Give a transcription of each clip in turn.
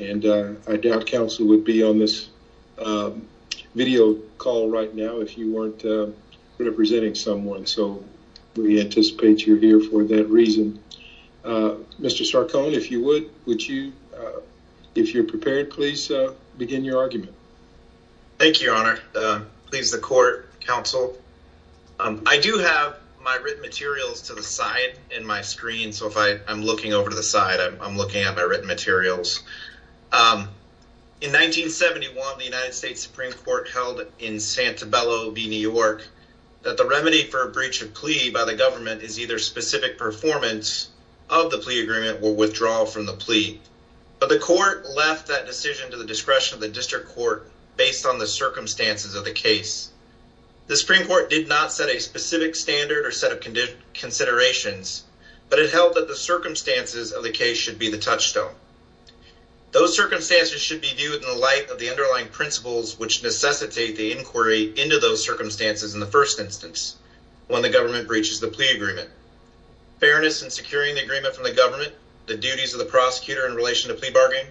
and I doubt counsel would be on this video call right now if you weren't representing someone so we anticipate you're here for that reason. Mr. Sarcone if you would, would you if you're prepared please begin your argument. Thank you your honor. Please the court, counsel. I do have my written materials to the side in my screen so if I I'm looking over to the side I'm looking at my written materials. In 1971 the United States Supreme Court held in Santabello v New York that the remedy for a breach of plea by the government is either specific performance of the plea agreement or withdrawal from the plea but the court left that decision to the discretion of the district court based on the circumstances of the case. The Supreme Court did not set a specific standard or set of conditions considerations but it held that the circumstances of the case should be the touchstone. Those circumstances should be viewed in the light of the underlying principles which necessitate the inquiry into those circumstances in the first instance when the government breaches the plea agreement. Fairness in securing the agreement from the government, the duties of the prosecutor in relation to plea bargaining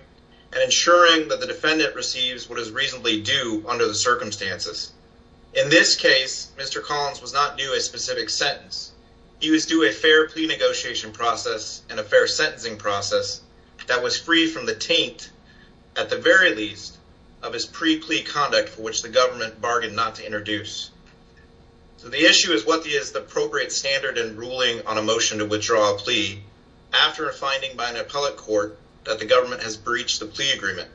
and ensuring that the defendant receives what is reasonably due under the circumstances. In this case Mr. Collins was not due a specific sentence. He was due a fair plea negotiation process and a fair sentencing process that was free from the taint at the very least of his pre-plea conduct for which the government bargained not to introduce. So the issue is what is the appropriate standard and ruling on a motion to withdraw a plea after a finding by an appellate court that the government has breached the plea agreement.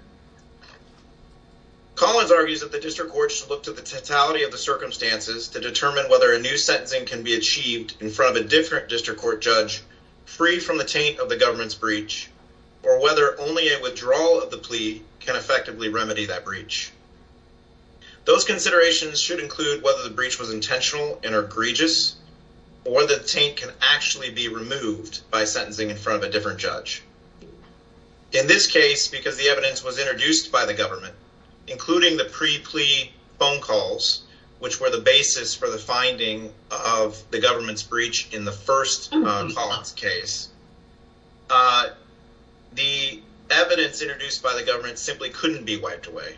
Collins argues that the district court should look to the totality of the circumstances to in front of a different district court judge free from the taint of the government's breach or whether only a withdrawal of the plea can effectively remedy that breach. Those considerations should include whether the breach was intentional and egregious or the taint can actually be removed by sentencing in front of a different judge. In this case because the evidence was introduced by the government including the pre-plea phone breach in the first Collins case the evidence introduced by the government simply couldn't be wiped away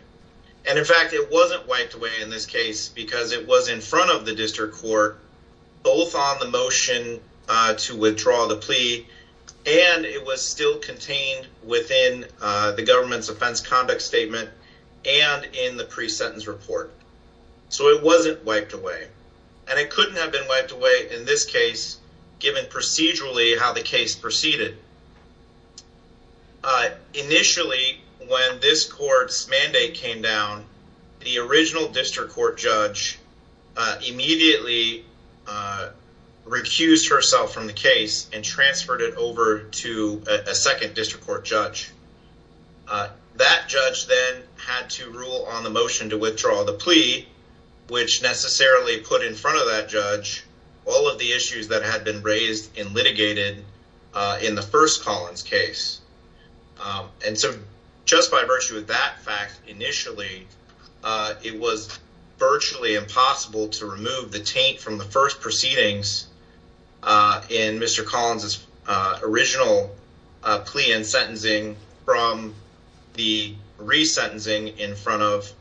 and in fact it wasn't wiped away in this case because it was in front of the district court both on the motion to withdraw the plea and it was still contained within the government's offense conduct statement and in the pre-sentence report. So it wasn't wiped away and it couldn't have been wiped away in this case given procedurally how the case proceeded. Initially when this court's mandate came down the original district court judge immediately refused herself from the case and transferred it over to a second district court judge. That judge then had to rule on the motion to withdraw the plea which necessarily put in front of that judge all of the issues that had been raised and litigated in the first Collins case and so just by virtue of that fact initially it was virtually impossible to remove the taint from the first proceedings in Mr. Collins's original plea and sentencing from the re-sentencing in front of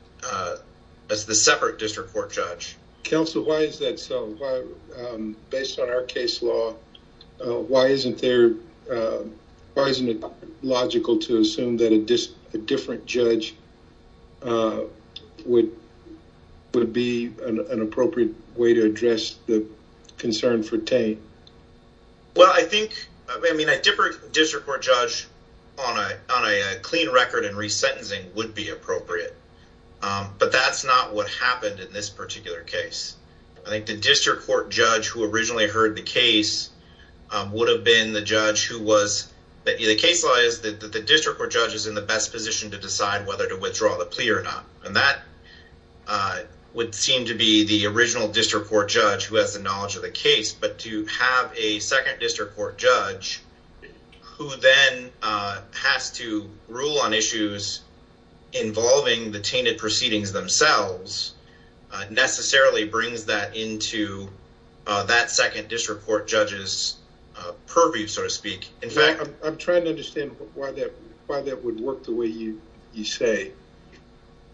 the separate district court judge. Counsel why is that so based on our case law why isn't there why isn't it logical to assume that a different judge would be an appropriate way to address the concern for taint? Well I think I mean a different district court judge on a on a clean record and re-sentencing would be appropriate but that's not what happened in this particular case. I think the district court judge who originally heard the case would have been the judge who was that the case law is that the district court judge is in the best position to decide whether to withdraw the plea or not and that would seem to be the original district court judge who has the knowledge of the case but to have a second district court judge who then has to rule on issues involving the tainted proceedings themselves necessarily brings that into that second district court judge's purview so to speak. In fact I'm trying to understand why that why that would work the way you you say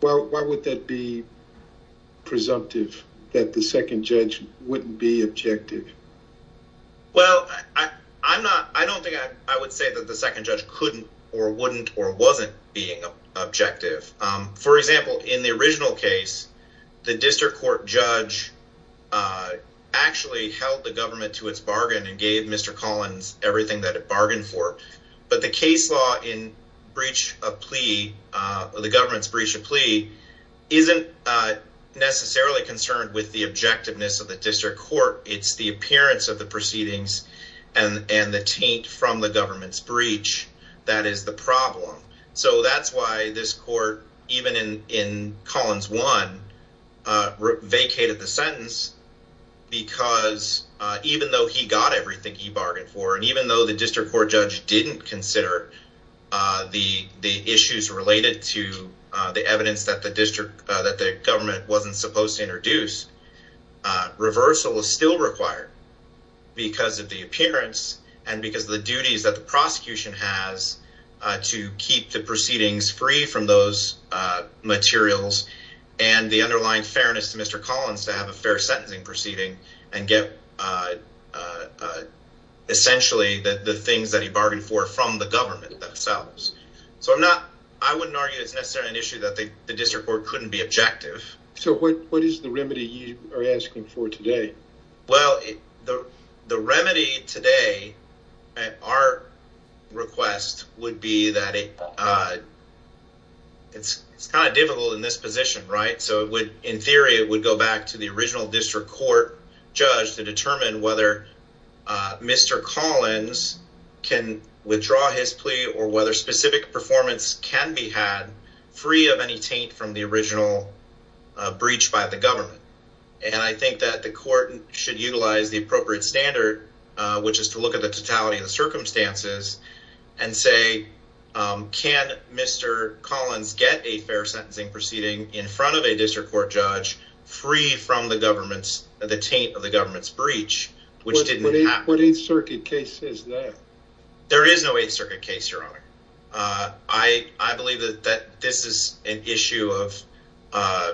well why would that be presumptive that the second judge wouldn't be objective? Well I I'm not I don't think I would say that the second judge couldn't or wouldn't or wasn't being objective. For example in the original case the district court judge actually held the government to its bargain and gave Mr. Collins everything that it bargained for but the case law in breach of plea or the government's breach of plea isn't necessarily concerned with the objectiveness of the district court it's the appearance of the proceedings and and the taint from the government's breach that is the problem so that's why this court even in in Collins one vacated the sentence because even though he got everything he bargained for and even though the district court judge didn't consider the the issues related to the evidence that the district that the government wasn't supposed to introduce reversal is still required because of the appearance and because the duties that the prosecution has to keep the proceedings free from those materials and the underlying fairness to Mr. Collins to have a fair sentencing proceeding and get essentially that the things that he bargained for from the the district court couldn't be objective so what what is the remedy you are asking for today well the the remedy today at our request would be that it uh it's it's kind of difficult in this position right so it would in theory it would go back to the original district court judge to determine whether uh Mr. Collins can withdraw his plea or whether specific performance can be had free of any taint from the original breach by the government and I think that the court should utilize the appropriate standard which is to look at the totality of the circumstances and say can Mr. Collins get a fair sentencing proceeding in front of a district court judge free from the government's the taint of the government's breach which didn't happen circuit case is that there is no eighth circuit case your honor uh I I believe that that this is an issue of uh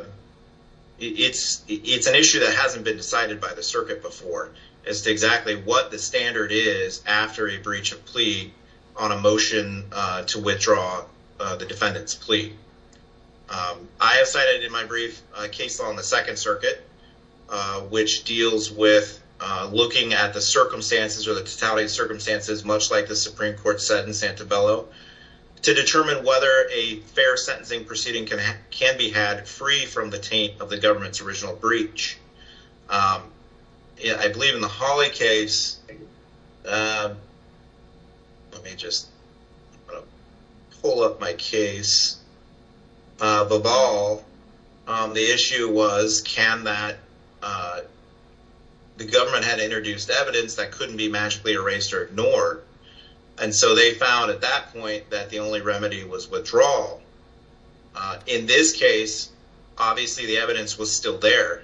it's it's an issue that hasn't been decided by the circuit before as to exactly what the standard is after a breach of plea on a motion uh to withdraw uh the defendant's plea um I have cited in my brief case law on the second circuit uh which deals with uh looking at the circumstances or the totality of circumstances much like the supreme court said in santa bello to determine whether a fair sentencing proceeding can can be had free from the taint of the government's original breach um yeah I believe in the holly case uh let me just pull up my case uh the ball um the issue was can that uh the government had introduced evidence that couldn't be magically erased or ignored and so they found at that point that the only remedy was withdrawal uh in this case obviously the evidence was still there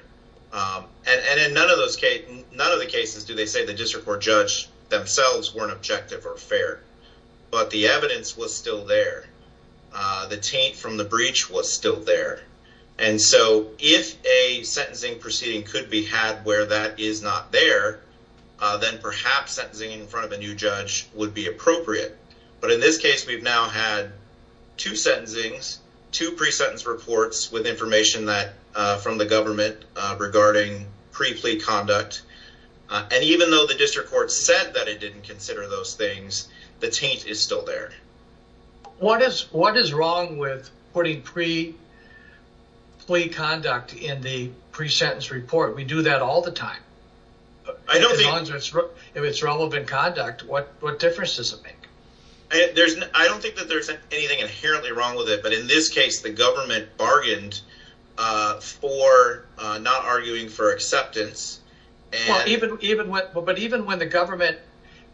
um and and in none of those cases none of the cases do they say the district court judge themselves weren't objective or fair but the evidence was still there uh the that is not there uh then perhaps sentencing in front of a new judge would be appropriate but in this case we've now had two sentencings two pre-sentence reports with information that uh from the government uh regarding pre-plea conduct and even though the district court said that it didn't consider those things the taint is still there what is what is wrong with putting pre-plea conduct in the pre-sentence report we do that all the time I don't think if it's relevant conduct what what difference does it make I there's I don't think that there's anything inherently wrong with it but in this case the government bargained uh for uh not arguing for acceptance and even even what but even when the government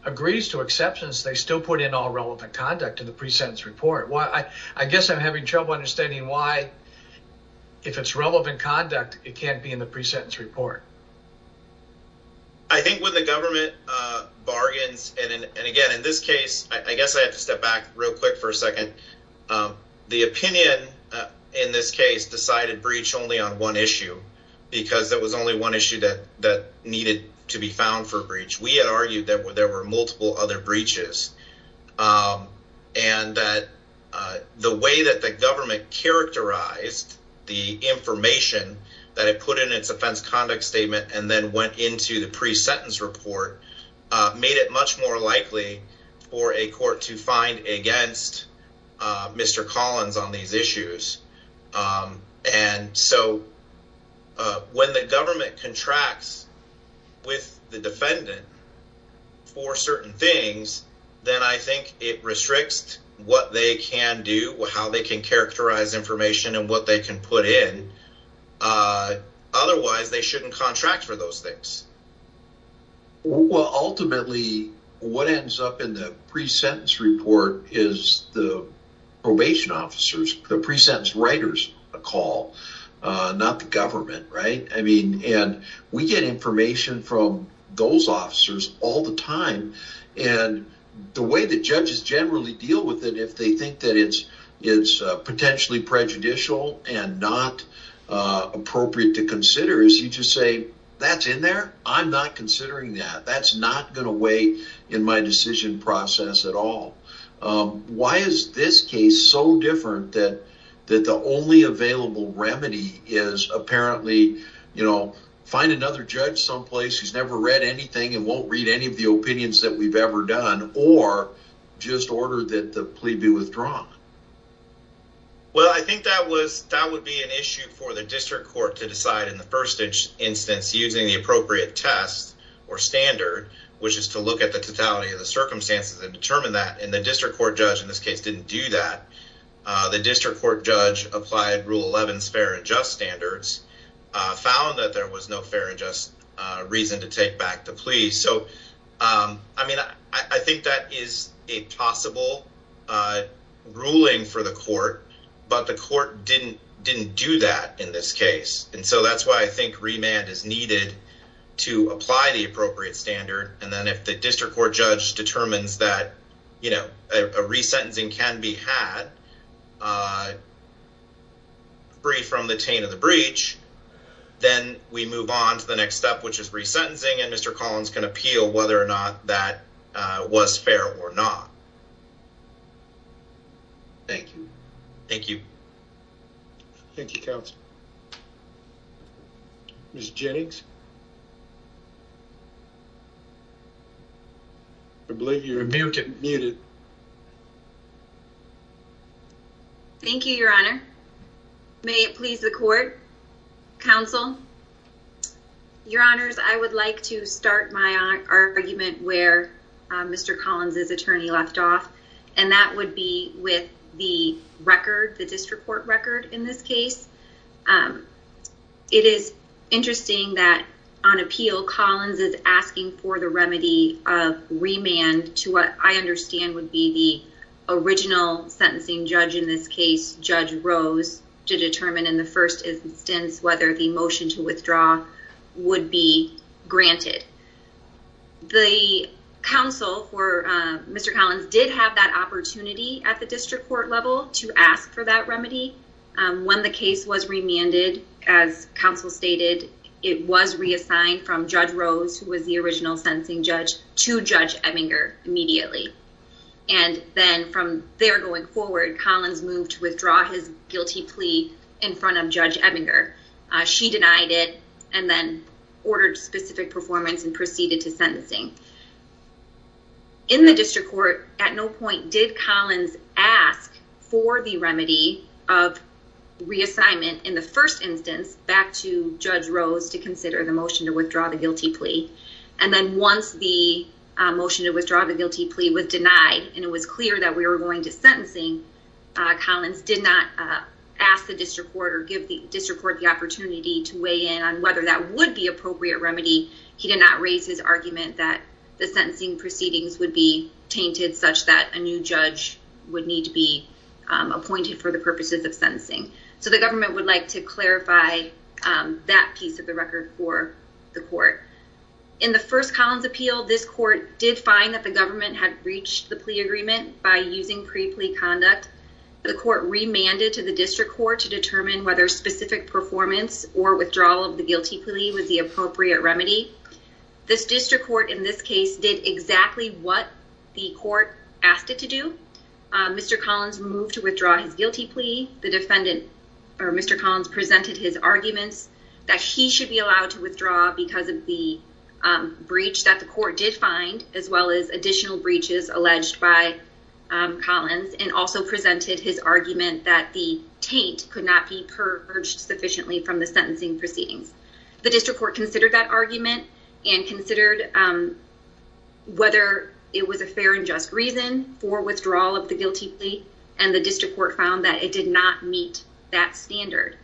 agrees to exceptions they still put in all relevant conduct in the pre-sentence report I guess I'm having trouble understanding why if it's relevant conduct it can't be in the pre-sentence report I think when the government uh bargains and and again in this case I guess I have to step back real quick for a second um the opinion in this case decided breach only on one issue because there was only one issue that that needed to be found for breach we had argued there were multiple other breaches and that the way that the government characterized the information that it put in its offense conduct statement and then went into the pre-sentence report made it much more likely for a court to find against Mr. Collins on these issues um and so uh when the government contracts with the defendant for certain things then I think it restricts what they can do how they can characterize information and what they can put in uh otherwise they shouldn't contract for those things well ultimately what ends up in the pre-sentence report is the probation officers the pre-sentence writers a call uh not the government right I mean and we get information from those officers all the time and the way the judges generally deal with it if they think that it's it's uh potentially prejudicial and not uh appropriate to consider is you just say that's in there I'm not considering that that's not going to weigh in my decision process at all um why is this case so different that that the only available remedy is apparently you know find another judge someplace who's never read anything and won't read any of the opinions that we've ever done or just order that the plea be withdrawn well I think that was that would be an issue for the district court to decide in the first instance using the appropriate test or standard which is to look at the totality of the circumstances and determine that and the district court judge in this case didn't do that uh the district court judge applied rule 11 fair and just standards uh found that there was no fair and just uh reason to take back the plea so um I mean I think that is a possible uh ruling for the court but the court didn't didn't do that in this case and so that's why I think remand is needed to apply the appropriate standard and then if the district court judge determines that you know a resentencing can be had uh free from the taint of the breach then we move on to the next step which is resentencing and Mr. Collins can appeal whether or not that uh was fair or not. Thank you. Thank you. Thank you, counsel. Ms. Jennings. I believe you're muted. Thank you, your honor. May it please the court, counsel, your honors, I would like to start my argument where Mr. Collins's attorney left off and that would be with the record the district court record in this case. It is interesting that on appeal Collins is asking for the remedy of remand to what I understand would be the original sentencing judge in this case, Judge Rose, to the counsel for uh Mr. Collins did have that opportunity at the district court level to ask for that remedy um when the case was remanded as counsel stated it was reassigned from Judge Rose who was the original sentencing judge to Judge Ebinger immediately and then from there going forward Collins moved to withdraw his guilty plea in front of Judge Ebinger. She denied it and then ordered specific performance and proceeded to sentencing. In the district court at no point did Collins ask for the remedy of reassignment in the first instance back to Judge Rose to consider the motion to withdraw the guilty plea and then once the motion to withdraw the guilty plea was denied and it was clear that we were going to sentencing Collins did not ask the district court or give the district court the opportunity to weigh in whether that would be appropriate remedy. He did not raise his argument that the sentencing proceedings would be tainted such that a new judge would need to be appointed for the purposes of sentencing. So the government would like to clarify that piece of the record for the court. In the first Collins appeal this court did find that the government had breached the plea agreement by using pre-plea conduct. The court remanded to the district court to determine whether specific performance or withdrawal of the guilty plea was the appropriate remedy. This district court in this case did exactly what the court asked it to do. Mr. Collins moved to withdraw his guilty plea. The defendant or Mr. Collins presented his arguments that he should be allowed to withdraw because of the breach that the court did find as well as additional breaches alleged by Collins and also presented his argument that the taint could not be purged sufficiently from the sentencing proceedings. The district court considered that argument and considered whether it was a fair and just reason for withdrawal of the guilty plea and the district court found that it did not meet that standard.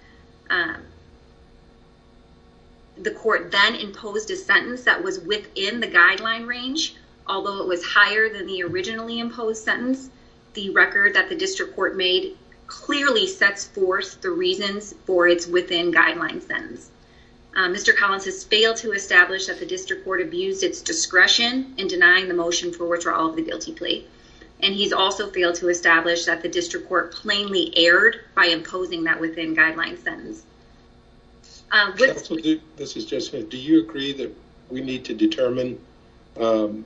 The court then imposed a sentence that was within the guideline range. Although it was higher than the originally imposed sentence, the record that the district court made clearly sets forth the reasons for its within guideline sentence. Mr. Collins has failed to establish that the district court abused its discretion in denying the motion for withdrawal of the guilty plea and he's also failed to establish that the district court plainly erred by imposing that within guideline sentence. Counsel, this is Jeff Smith. Do you agree that we need to determine a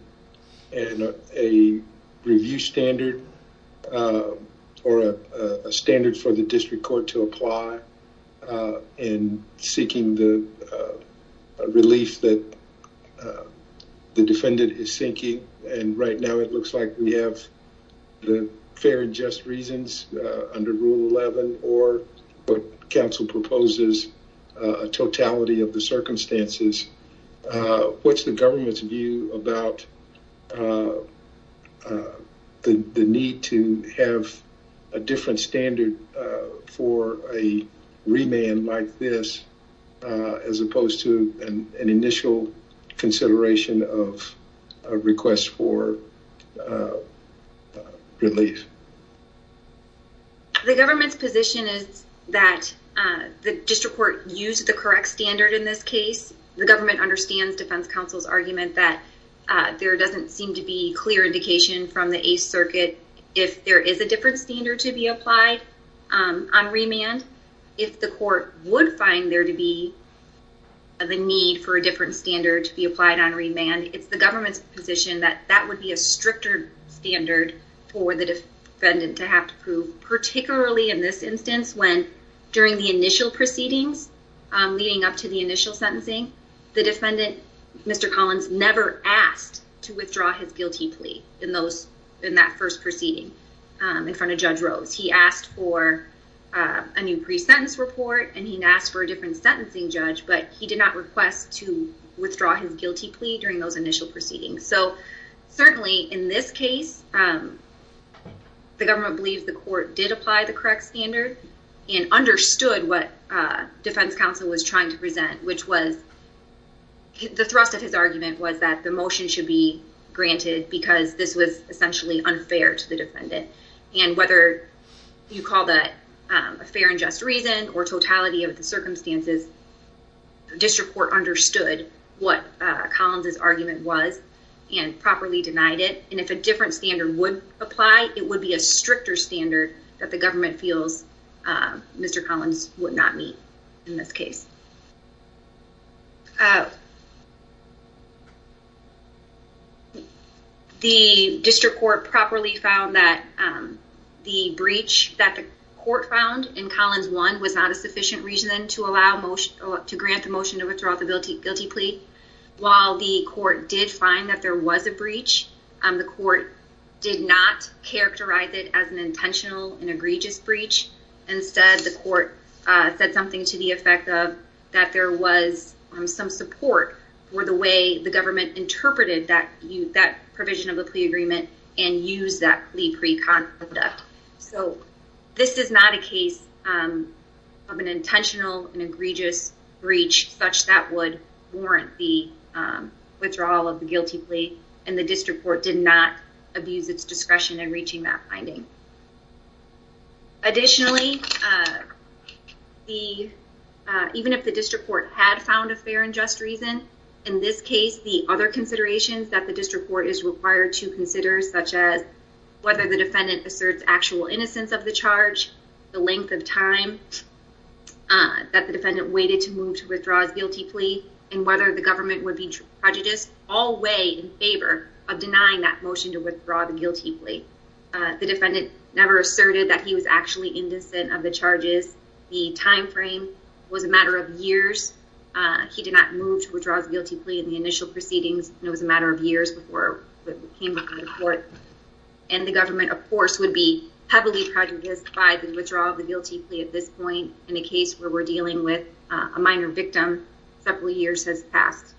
review standard or a standard for the district court to apply in seeking the relief that the defendant is seeking and right now it looks like we have the fair and just reasons under rule 11 or what counsel proposes a totality of the circumstances what's the government's view about the need to have a different standard for a remand like this as opposed to an initial consideration of a request for relief? The government's position is that the district court used the correct standard in this case. The government understands defense counsel's argument that there doesn't seem to be clear indication from the eighth circuit if there is a different standard to be applied on remand. If the court would find there to be the need for a different standard to be applied on remand, it's the government's position that that would be a stricter standard for the defendant to have to prove particularly in this instance when during the initial proceedings leading up to the initial sentencing the defendant, Mr. Collins, never asked to withdraw his guilty plea in that first proceeding in front of Judge Rose. He asked for a new pre-sentence report and he asked for a different sentencing judge but he did not request to withdraw his guilty plea during those initial proceedings. So certainly in this case the court did apply the correct standard and understood what defense counsel was trying to present which was the thrust of his argument was that the motion should be granted because this was essentially unfair to the defendant and whether you call that a fair and just reason or totality of the circumstances, district court understood what Collins's argument was and properly denied it and if a different standard would apply, it would be a stricter standard that the government feels Mr. Collins would not meet in this case. The district court properly found that the breach that the court found in Collins 1 was not a sufficient reason to grant the motion to withdraw the guilty plea. While the court did find that there was a breach, the court did not characterize it as an intentional and egregious breach. Instead the court said something to the effect of that there was some support for the way the government interpreted that provision of the plea agreement and used that plea pre-conduct. So this is not a case of an intentional and egregious breach such that would warrant the withdrawal of the guilty plea and the district court did not abuse its discretion in reaching that finding. Additionally, even if the district court had found a fair and just reason, in this case the other considerations that the district court is required to consider such as whether the defendant asserts actual innocence of the charge, the length of time that the defendant waited to move to withdraw his guilty plea, and whether the government would be prejudiced all way in favor of denying that motion to withdraw the guilty plea. The defendant never asserted that he was actually innocent of the charges. The time frame was a matter of years. He did not move to withdraw his guilty plea in the initial proceedings and it was a matter of years before it came before the court and the government of course would be heavily prejudiced by the withdrawal of the guilty plea at this point in a case where we're dealing with a minor victim. Several years have passed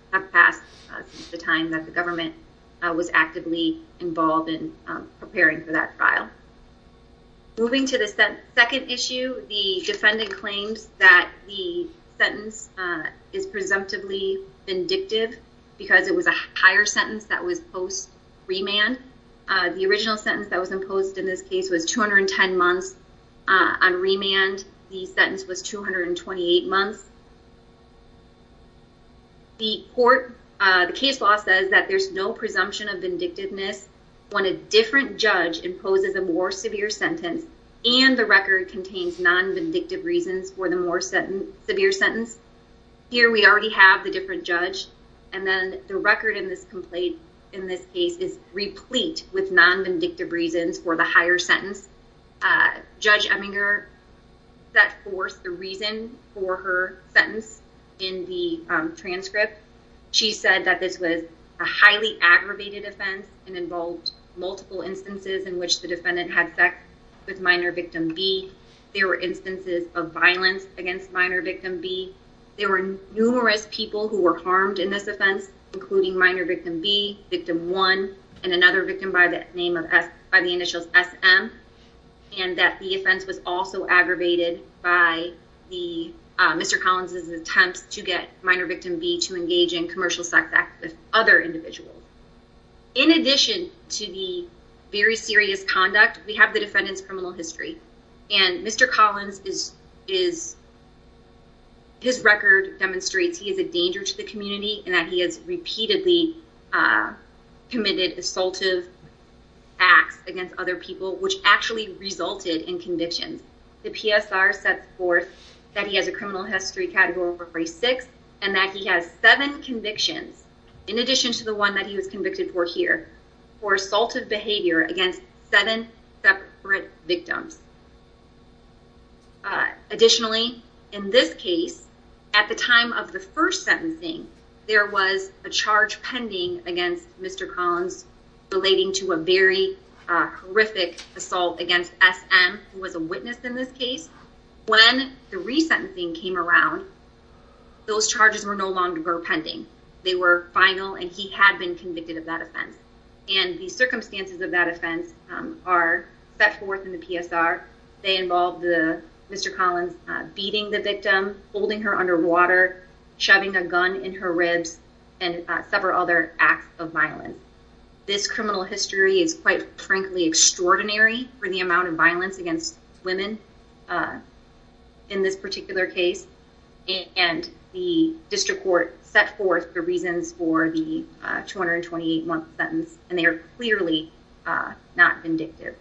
since the time that the government was actively involved in preparing for that trial. Moving to the second issue, the defendant claims that the sentence is presumptively vindictive because it was a higher sentence that was post-remand. The original sentence that was imposed in this case was 210 months on remand. The sentence was 228 months. The court, the case law says that there's no presumption of vindictiveness when a different judge imposes a more severe sentence and the record contains non-vindictive reasons for the more severe sentence. Here we already have the different judge and then the record in this case is replete with non-vindictive reasons for the higher sentence. Judge Eminger set forth the reason for her sentence in the transcript. She said that this was a highly aggravated offense and involved multiple instances in which the defendant had sex with minor victim B. There were instances of violence against minor victim B. There were numerous people who were harmed in this and another victim by the initials SM and that the offense was also aggravated by Mr. Collins' attempts to get minor victim B to engage in commercial sex with other individuals. In addition to the very serious conduct, we have the defendant's criminal history and Mr. Collins, his record demonstrates he is a danger to the community and that he has committed assaultive acts against other people which actually resulted in convictions. The PSR sets forth that he has a criminal history category for phrase six and that he has seven convictions in addition to the one that he was convicted for here for assaultive behavior against seven separate victims. Additionally, in this case, at the time of the first sentencing, there was a relating to a very horrific assault against SM who was a witness in this case. When the re-sentencing came around, those charges were no longer pending. They were final and he had been convicted of that offense and the circumstances of that offense are set forth in the PSR. They involve Mr. Collins beating the victim, holding her underwater, shoving a gun in her ribs, and several other acts of violence. This criminal history is quite frankly extraordinary for the amount of violence against women in this particular case and the district court set forth the reasons for the 228 month sentence and they are clearly not vindictive.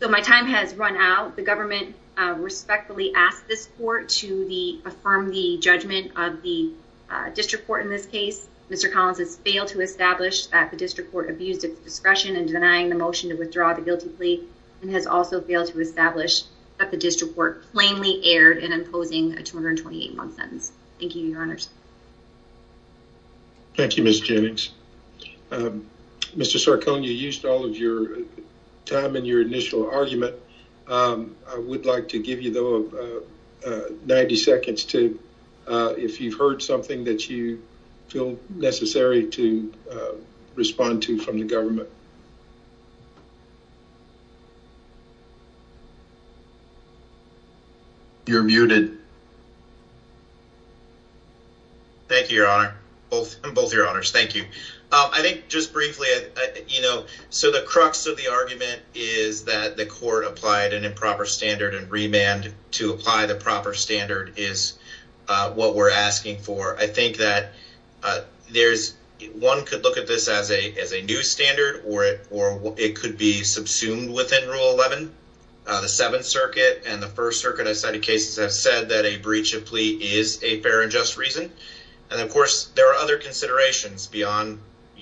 So my time has run out. The government respectfully asked this court to affirm the judgment of the district court in this case. Mr. Collins has failed to establish that the district court abused its discretion in denying the motion to withdraw the guilty plea and has also failed to establish that the district court plainly erred in imposing a 228 month sentence. Thank you, your honors. Thank you, Ms. Jennings. Mr. Sarcone, you used all of your time in your initial argument. I would like to give you though 90 seconds to, if you've heard something that you feel necessary to respond to from the government. You're muted. Thank you, your honor. Both your honors, thank you. I think just briefly, you know, so the crux of the argument is that the court applied an improper standard and remand to apply the proper standard is what we're asking for. I think that there's, one could look at this as a new standard or it could be subsumed within rule 11. The seventh circuit and the first circuit of cited cases have said that a breach of plea is a fair and just reason and of course there are other considerations beyond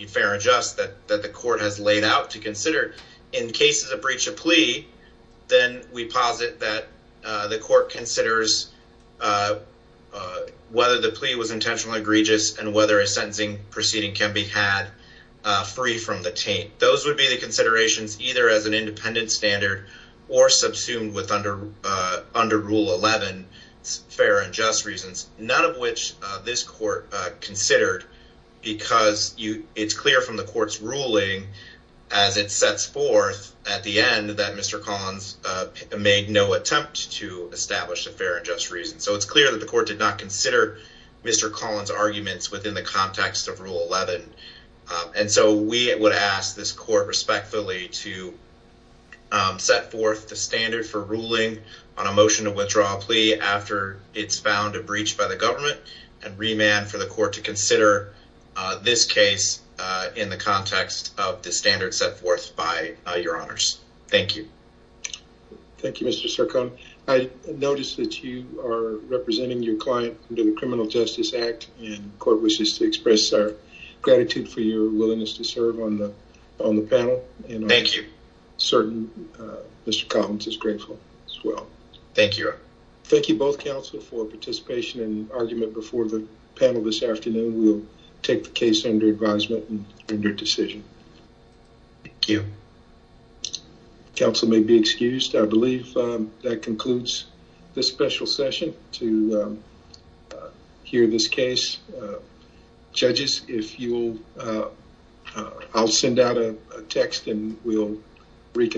fair and just that the court has laid out to consider. In cases of breach of plea, then we posit that the court considers whether the plea was intentionally egregious and whether a sentencing proceeding can be had free from the taint. Those would be the considerations either as an independent standard or subsumed with under rule 11, fair and just reasons. None of which this court considered because it's clear from the court's ruling as it sets forth at the end that Mr. Collins made no attempt to establish a fair and just reason. So it's clear that the court did not consider Mr. Collins' arguments within the context of rule 11. And so we would ask this court respectfully to set forth the standard for ruling on a motion to withdraw a plea after it's found a breach by the government and remand for the court to consider this case in the context of the standard set forth by your honors. Thank you. Thank you, Mr. Sircone. I noticed that you are representing your client under the Criminal Justice Act and court wishes to express our gratitude for your willingness to serve on the panel. Thank you. Certain Mr. Collins is grateful as well. Thank you. Thank you both counsel for participation and argument before the panel this afternoon. We'll take the case under advisement and your decision. Thank you. Counsel may be excused. I believe that concludes this special session to hear this case. Judges, I'll send out a text and we'll reconvene.